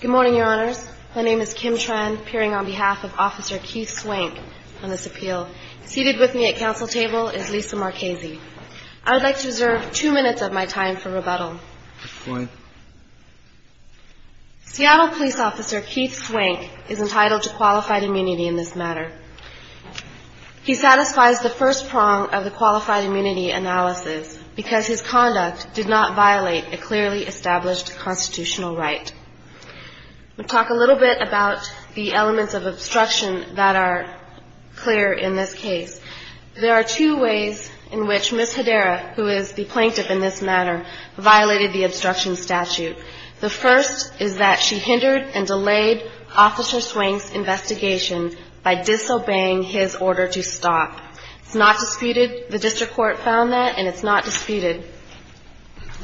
Good morning, your honors. My name is Kim Tran, appearing on behalf of Officer Keith Swank on this appeal. Seated with me at council table is Lisa Marchese. I would like to reserve two minutes of my time for rebuttal. Good point. Seattle Police Officer Keith Swank is entitled to qualified immunity in this matter. He satisfies the first prong of the qualified immunity analysis because his conduct did not violate a clearly established constitutional right. We'll talk a little bit about the elements of obstruction that are clear in this case. There are two ways in which Ms. Hedera, who is the plaintiff in this matter, violated the obstruction statute. The first is that she hindered and delayed Officer Swank's investigation by disobeying his order to stop. It's not disputed. The district court found that, and it's not disputed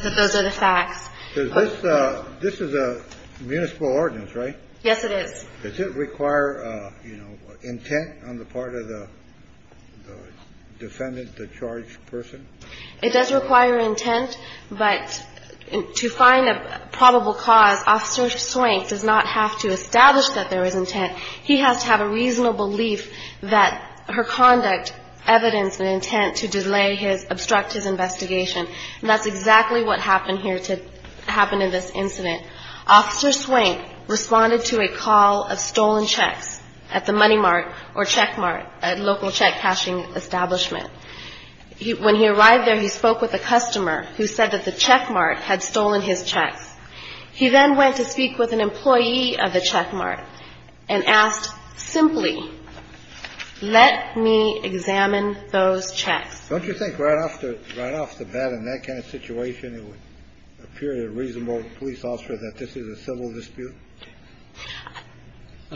that those are the facts. This is a municipal ordinance, right? Yes, it is. Does it require, you know, intent on the part of the defendant, the charged person? It does require intent, but to find a probable cause, Officer Swank does not have to establish that there is intent. He has to have a reasonable belief that her conduct evidenced an intent to delay his, obstruct his investigation, and that's exactly what happened here to happen in this incident. Officer Swank responded to a call of stolen checks at the Money Mart or Check Mart, a local check cashing establishment. When he arrived there, he spoke with a customer who said that the Check Mart had stolen his checks. He then went to speak with an employee of the Check Mart and asked simply, let me examine those checks. Don't you think right off the bat in that kind of situation, it would appear to a reasonable police officer that this is a civil dispute?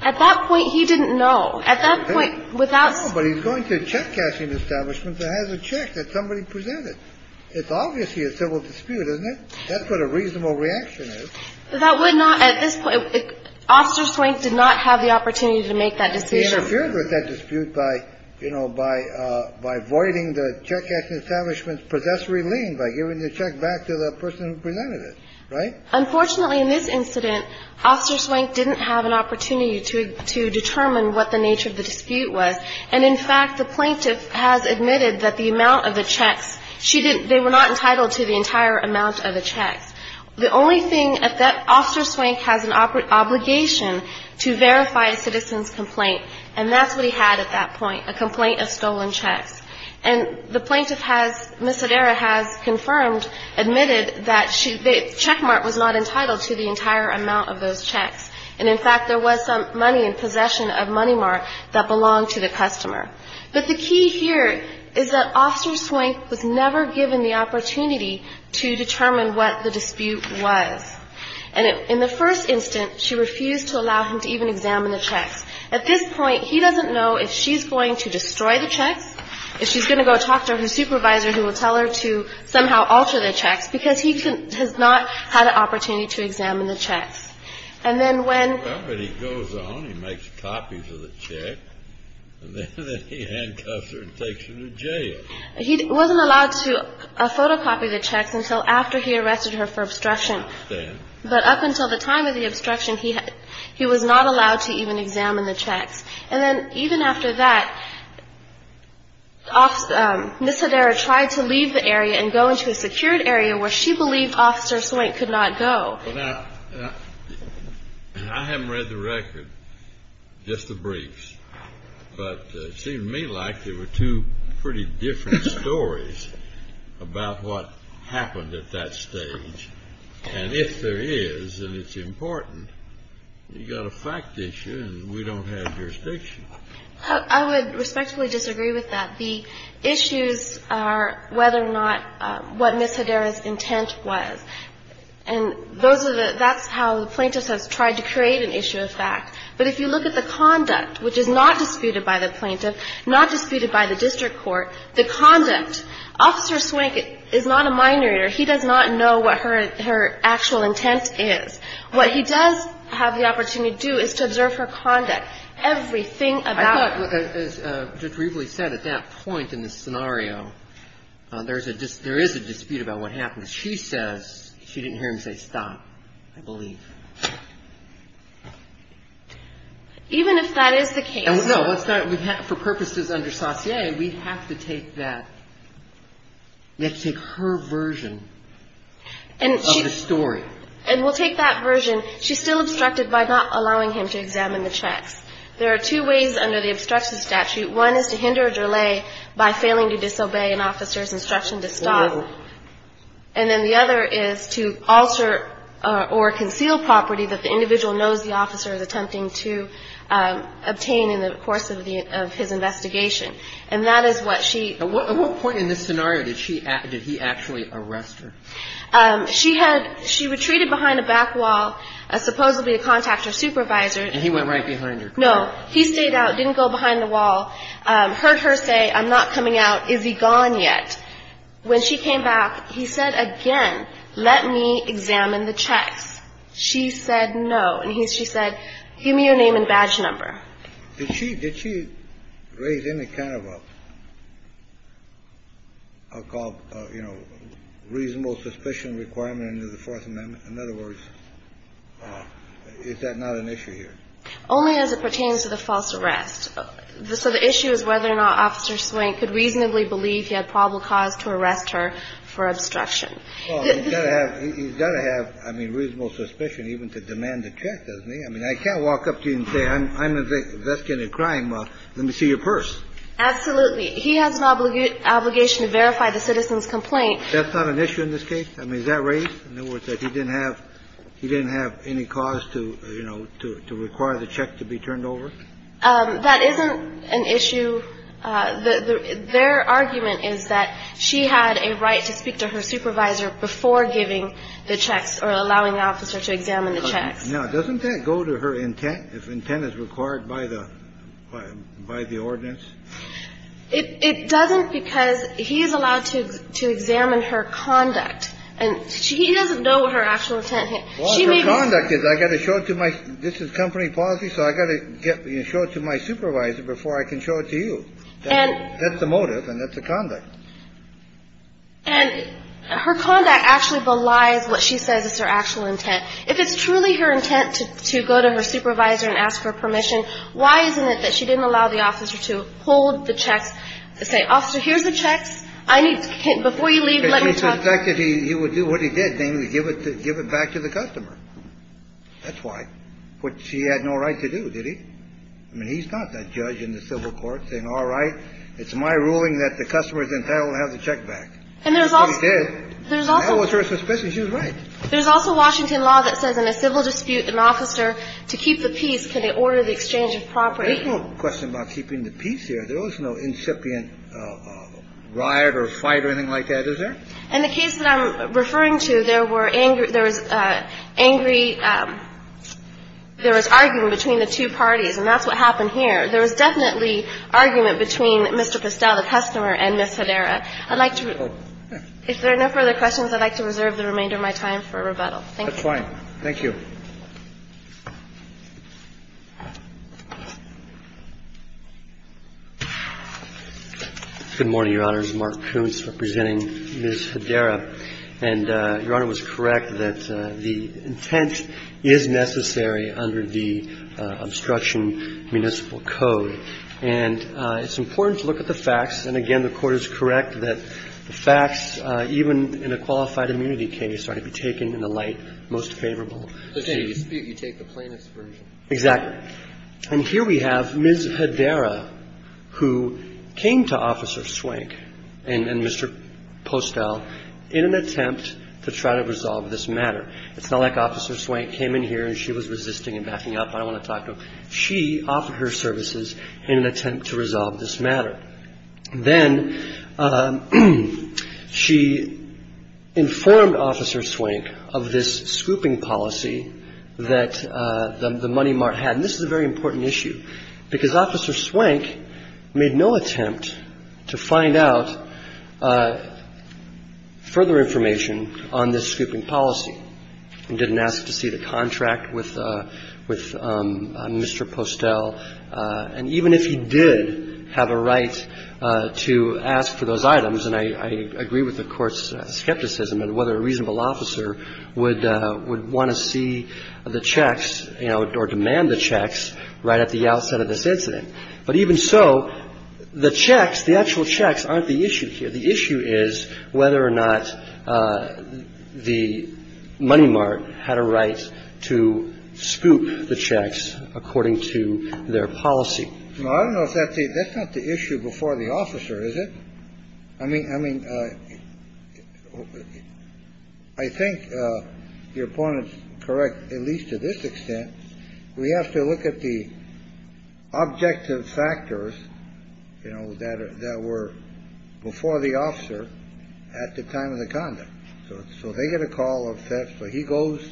At that point, he didn't know. At that point, without ---- No, but he's going to a check cashing establishment that has a check that somebody presented. It's obviously a civil dispute, isn't it? That's what a reasonable reaction is. That would not at this point ---- Officer Swank did not have the opportunity to make that dispute. He interfered with that dispute by, you know, by voiding the check cashing establishment's possessory lien by giving the check back to the person who presented it, right? Unfortunately, in this incident, Officer Swank didn't have an opportunity to determine what the nature of the dispute was. And in fact, the plaintiff has admitted that the amount of the checks, she didn't ---- The only thing that Officer Swank has an obligation to verify a citizen's complaint, and that's what he had at that point, a complaint of stolen checks. And the plaintiff has ---- Ms. Hedera has confirmed, admitted that she ---- the checkmark was not entitled to the entire amount of those checks. And in fact, there was some money in possession of Money Mart that belonged to the customer. But the key here is that Officer Swank was never given the opportunity to determine what the dispute was. And in the first instance, she refused to allow him to even examine the checks. At this point, he doesn't know if she's going to destroy the checks, if she's going to go talk to her supervisor who will tell her to somehow alter the checks, because he has not had an opportunity to examine the checks. And then when ---- copies of the check, and then he handcuffs her and takes her to jail. He wasn't allowed to photocopy the checks until after he arrested her for obstruction. I understand. But up until the time of the obstruction, he was not allowed to even examine the checks. And then even after that, Ms. Hedera tried to leave the area and go into a secured area where she believed Officer Swank could not go. Well, now, I haven't read the record, just the briefs. But it seemed to me like they were two pretty different stories about what happened at that stage. And if there is, and it's important, you've got a fact issue and we don't have jurisdiction. I would respectfully disagree with that. The issues are whether or not what Ms. Hedera's intent was. And those are the ---- that's how the plaintiff has tried to create an issue of fact. But if you look at the conduct, which is not disputed by the plaintiff, not disputed by the district court, the conduct. Officer Swank is not a minor. He does not know what her actual intent is. What he does have the opportunity to do is to observe her conduct. Everything about her ---- I thought, as Judge Riebley said, at that point in the scenario, there is a dispute about what happened. And she says, she didn't hear him say stop, I believe. Even if that is the case. No, let's not, for purposes under Saussure, we have to take that, we have to take her version of the story. And we'll take that version. She's still obstructed by not allowing him to examine the checks. There are two ways under the obstruction statute. One is to hinder or delay by failing to disobey an officer's instruction to stop. And then the other is to alter or conceal property that the individual knows the officer is attempting to obtain in the course of his investigation. And that is what she ---- At what point in this scenario did she, did he actually arrest her? She had, she retreated behind a back wall, supposedly to contact her supervisor. And he went right behind her car? No. He stayed out, didn't go behind the wall, heard her say, I'm not coming out, is he gone yet? When she came back, he said again, let me examine the checks. She said no. And he, she said, give me your name and badge number. Did she, did she raise any kind of a, a call, you know, reasonable suspicion requirement under the Fourth Amendment? In other words, is that not an issue here? Only as it pertains to the false arrest. So the issue is whether or not Officer Swain could reasonably believe he had probable cause to arrest her for obstruction. Well, he's got to have, he's got to have, I mean, reasonable suspicion even to demand a check, doesn't he? I mean, I can't walk up to you and say I'm investigating a crime. Let me see your purse. Absolutely. He has an obligation to verify the citizen's complaint. That's not an issue in this case? I mean, is that raised? In other words, that he didn't have, he didn't have any cause to, you know, to require the check to be turned over? That isn't an issue. Their argument is that she had a right to speak to her supervisor before giving the checks or allowing the officer to examine the checks. Now, doesn't that go to her intent if intent is required by the, by the ordinance? It doesn't because he is allowed to, to examine her conduct. And she doesn't know what her actual intent is. Well, her conduct is I've got to show it to my, this is company policy, so I've got to get, you know, show it to my supervisor before I can show it to you. That's the motive and that's the conduct. And her conduct actually belies what she says is her actual intent. If it's truly her intent to go to her supervisor and ask for permission, why isn't it that she didn't allow the officer to hold the checks, say, Officer, here's the checks. I need to, before you leave, let me talk to you. Let me suspect that he would do what he did, namely give it, give it back to the customer. That's why. Which he had no right to do, did he? I mean, he's not that judge in the civil court saying, all right, it's my ruling that the customer is entitled to have the check back. And there's also. That's what he did. And that was her suspicion. She was right. There's also Washington law that says in a civil dispute, an officer, to keep the peace, can they order the exchange of property? There's no question about keeping the peace here. There was no incipient riot or fight or anything like that, is there? In the case that I'm referring to, there were angry, there was angry, there was argument between the two parties. And that's what happened here. There was definitely argument between Mr. Pestel, the customer, and Ms. Hedera. I'd like to. If there are no further questions, I'd like to reserve the remainder of my time for rebuttal. Thank you. Thank you. Good morning, Your Honor. This is Mark Koontz representing Ms. Hedera. And Your Honor was correct that the intent is necessary under the obstruction municipal code. And it's important to look at the facts. And again, the Court is correct that the facts, even in a qualified immunity case, are to be taken in the light most favorable. You take the plaintiff's version. Exactly. And here we have Ms. Hedera, who came to Officer Swank and Mr. Pestel in an attempt to try to resolve this matter. It's not like Officer Swank came in here and she was resisting and backing up. I don't want to talk to her. She offered her services in an attempt to resolve this matter. Then she informed Officer Swank of this scooping policy that the Money Mart had. And this is a very important issue, because Officer Swank made no attempt to find out further information on this scooping policy and didn't ask to see the contract with Mr. Pestel. And even if he did have a right to ask for those items, and I agree with the Court's skepticism in whether a reasonable officer would want to see the checks, you know, or demand the checks right at the outset of this incident. But even so, the checks, the actual checks, aren't the issue here. The issue is whether or not the Money Mart had a right to scoop the checks according to their policy. No, I don't know if that's the issue before the officer, is it? I mean, I mean, I think your point is correct, at least to this extent. We have to look at the objective factors, you know, that were before the officer at the time of the conduct. So they get a call of Pestel. He goes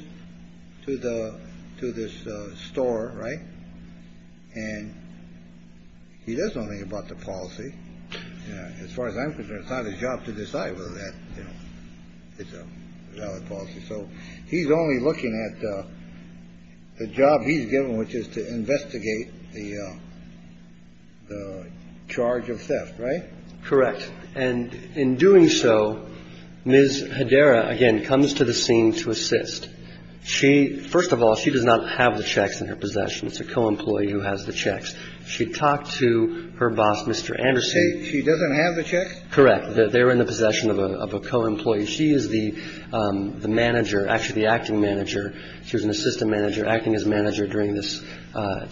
to the to this store, right? And he does nothing about the policy. As far as I'm concerned, it's not his job to decide whether that is a valid policy. So he's only looking at the job he's given, which is to investigate the charge of theft, right? Correct. And in doing so, Ms. Hedera, again, comes to the scene to assist. She, first of all, she does not have the checks in her possession. It's a co-employee who has the checks. She talked to her boss, Mr. Anderson. She doesn't have the checks? Correct. They're in the possession of a co-employee. She is the manager, actually the acting manager. She was an assistant manager, acting as manager during this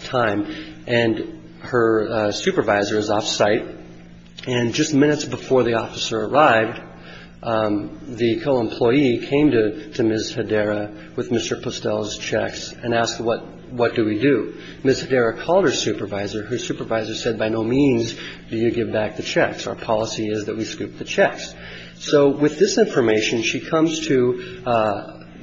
time. And her supervisor is off-site. And just minutes before the officer arrived, the co-employee came to Ms. Hedera with Mr. Pestel's checks and asked, what do we do? Ms. Hedera called her supervisor. Her supervisor said, by no means do you give back the checks. Our policy is that we scoop the checks. So with this information, she comes to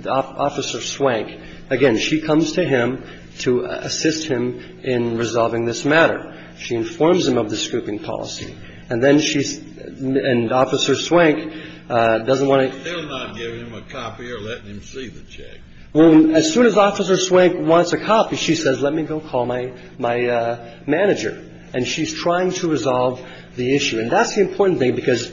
Officer Swank. Again, she comes to him to assist him in resolving this matter. She informs him of the scooping policy. And then she's – and Officer Swank doesn't want to – They're not giving him a copy or letting him see the checks. Well, as soon as Officer Swank wants a copy, she says, let me go call my manager. And she's trying to resolve the issue. And that's the important thing, because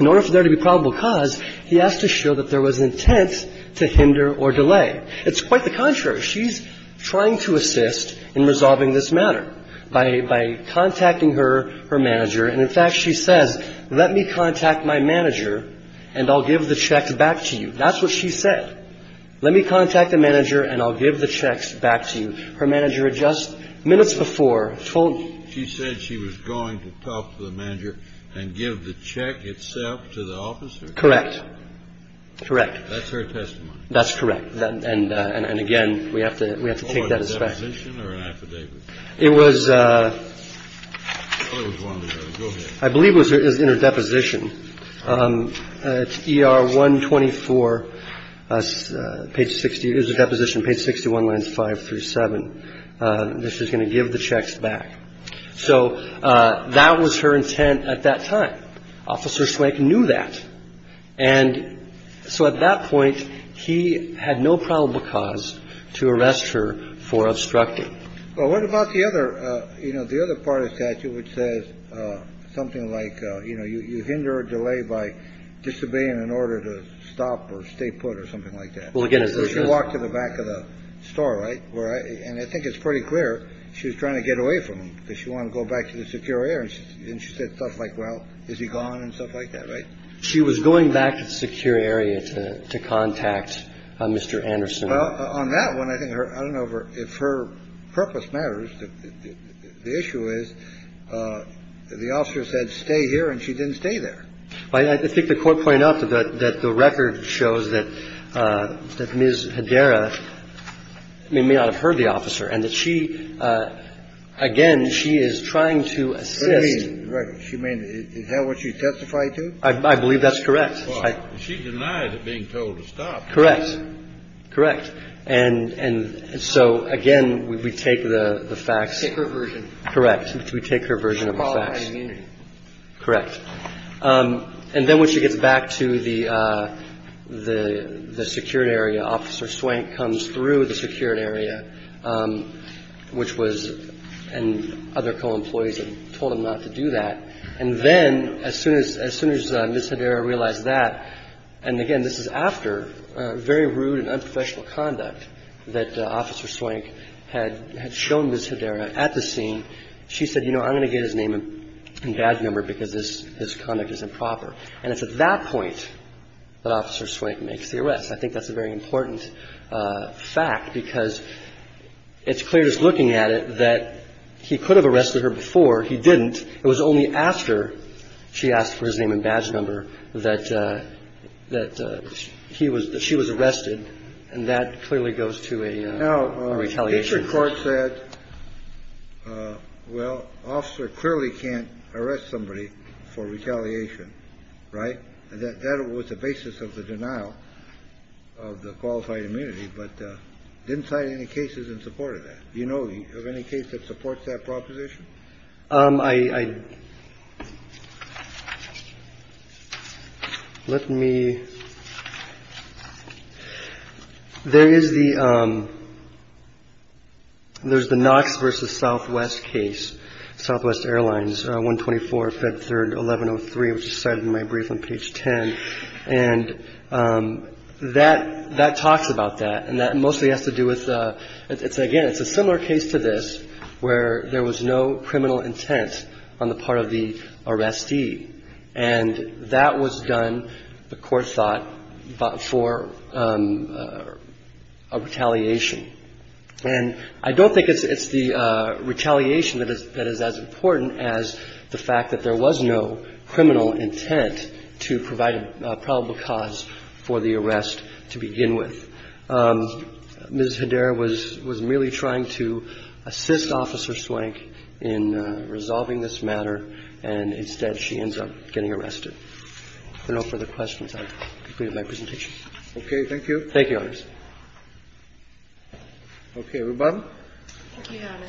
in order for there to be probable cause, he has to show that there was intent to hinder or delay. It's quite the contrary. She's trying to assist in resolving this matter by contacting her manager. And, in fact, she says, let me contact my manager and I'll give the checks back to you. That's what she said. Let me contact the manager and I'll give the checks back to you. Her manager had just minutes before told – She said she was going to talk to the manager and give the check itself to the officer? Correct. Correct. That's her testimony. That's correct. And, again, we have to take that as fact. It was – I believe it was in her deposition. It's ER 124, page 60. It was a deposition, page 61, lines 5 through 7. This is going to give the checks back. So that was her intent at that time. Officer Swank knew that. And so at that point, he had no probable cause to arrest her for obstructing. Well, what about the other – you know, the other part of the statute which says something like, you know, you hinder or delay by disobeying in order to stop or stay put or something like that? Well, again, it's – She walked to the back of the store, right? And I think it's pretty clear she was trying to get away from him because she wanted to go back to the secure area. And she said stuff like, well, is he gone and stuff like that, right? She was going back to the secure area to contact Mr. Anderson. Well, on that one, I think her – I don't know if her purpose matters. The issue is the officer said, stay here, and she didn't stay there. I think the Court pointed out that the record shows that Ms. Hedera may not have heard the officer and that she – again, she is trying to assist. What do you mean, the record? You mean it held what she testified to? I believe that's correct. She denied it being told to stop. Correct. Correct. And so, again, we take the facts. Take her version. Correct. We take her version of the facts. Qualified immunity. Correct. And then when she gets back to the secure area, Officer Swank comes through the secure area, which was – and other co-employees had told him not to do that. And then as soon as – as soon as Ms. Hedera realized that – and, again, this is after very rude and unprofessional conduct that Officer Swank had – had shown Ms. Hedera at the scene. She said, you know, I'm going to get his name and badge number because this – his conduct is improper. And it's at that point that Officer Swank makes the arrest. I think that's a very important fact because it's clear just looking at it that he could have arrested her before. He didn't. It was only after she asked for his name and badge number that – that he was – that she was arrested. And that clearly goes to a retaliation. Now, the district court said, well, Officer clearly can't arrest somebody for retaliation, right? That was the basis of the denial of the qualified immunity, but didn't cite any cases in support of that. Do you know of any case that supports that proposition? I – let me – there is the – there's the Knox v. Southwest case, Southwest Airlines, 124, Feb. 3, 1103, which is cited in my brief on page 10. And that – that talks about that. And that mostly has to do with – it's, again, it's a similar case to this where there was no criminal intent on the part of the arrestee. And that was done, the Court thought, for a retaliation. And I don't think it's the retaliation that is as important as the fact that there was no criminal intent to provide a probable cause for the arrest to begin with. Ms. Hedera was – was merely trying to assist Officer Swank in resolving this matter, and instead she ends up getting arrested. If there are no further questions, I'll conclude my presentation. Okay. Thank you. Thank you, Your Honors. Okay. Reba? Thank you, Your Honor.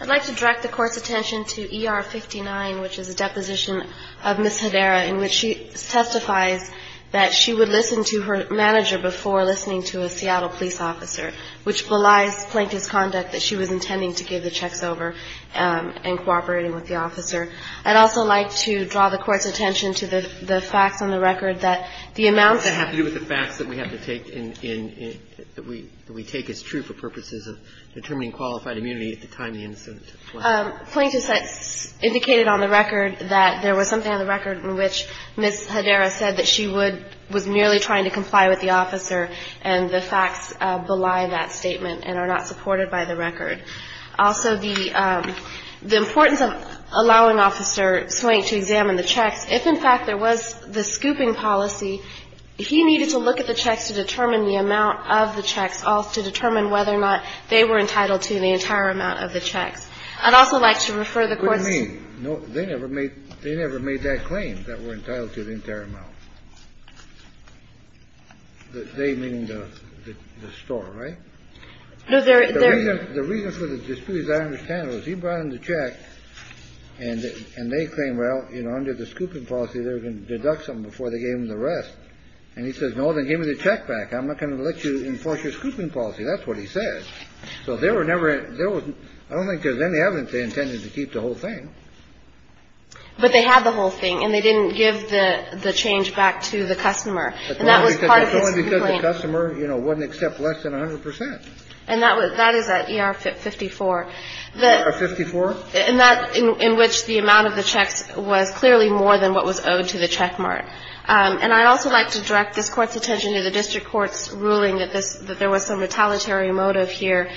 I'd like to direct the Court's attention to ER-59, which is a deposition of Ms. Hedera in which she testifies that she would listen to her manager before listening to a Seattle police officer, which belies Plaintiff's conduct that she was intending to give the checks over and cooperating with the officer. I'd also like to draw the Court's attention to the facts on the record that the amounts That have to do with the facts that we have to take in – that we take as true for purposes of determining qualified immunity at the time of the incident. Plaintiff's – indicated on the record that there was something on the record in which Ms. Hedera said that she would – was merely trying to comply with the officer and the facts belie that statement and are not supported by the record. Also, the importance of allowing Officer Swank to examine the checks, if, in fact, there was the scooping policy, he needed to look at the checks to determine the amount of the checks, also to determine whether or not they were entitled to the entire amount of the checks. I'd also like to refer the Court's – What do you mean? No, they never made – they never made that claim, that we're entitled to the entire amount. They, meaning the store, right? No, there – The reason for the dispute, as I understand it, was he brought in the check and they claim, well, you know, under the scooping policy, they were going to deduct something before they gave him the rest. And he says, no, then give me the check back. I'm not going to let you enforce your scooping policy. That's what he says. So there were never – there was – I don't think there's any evidence they intended to keep the whole thing. But they had the whole thing, and they didn't give the change back to the customer. And that was part of his complaint. It's only because the customer, you know, wouldn't accept less than 100 percent. And that was – that is at ER-54. ER-54? In that – in which the amount of the checks was clearly more than what was owed to the checkmark. And I'd also like to direct this Court's attention to the district court's ruling that this – that there was some retaliatory motive here.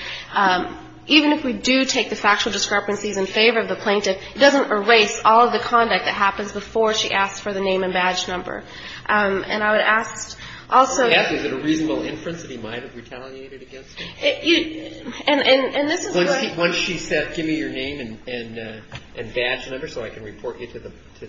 Even if we do take the factual discrepancies in favor of the plaintiff, it doesn't erase all of the conduct that happens before she asks for the name and badge number. And I would ask also – Is it a reasonable inference that he might have retaliated against her? And this is what – Once she said, give me your name and badge number so I can report you to the –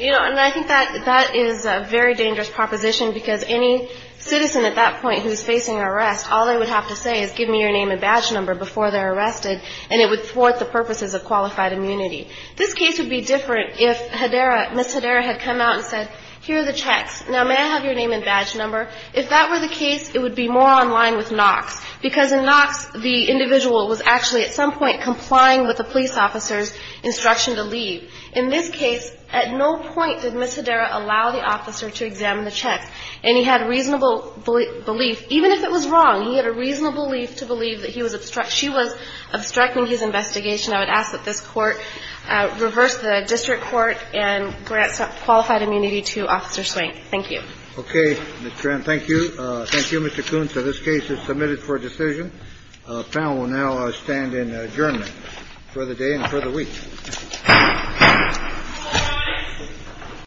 You know, and I think that is a very dangerous proposition, because any citizen at that point who's facing arrest, all they would have to say is give me your name and badge number before they're arrested, and it would thwart the purposes of qualified immunity. This case would be different if Hedera – Ms. Hedera had come out and said, here are the checks. Now, may I have your name and badge number? If that were the case, it would be more on line with Knox, because in Knox, the individual was actually at some point complying with the police officer's instruction to leave. In this case, at no point did Ms. Hedera allow the officer to examine the checks, and he had reasonable belief – even if it was wrong, he had a reasonable belief to believe that he was – she was obstructing his investigation. I would ask that this Court reverse the district court and grant qualified immunity to Officer Swank. Thank you. Okay, Ms. Tran. Thank you. Thank you, Mr. Koontz. This case is submitted for decision. The panel will now stand in adjournment for the day and for the week.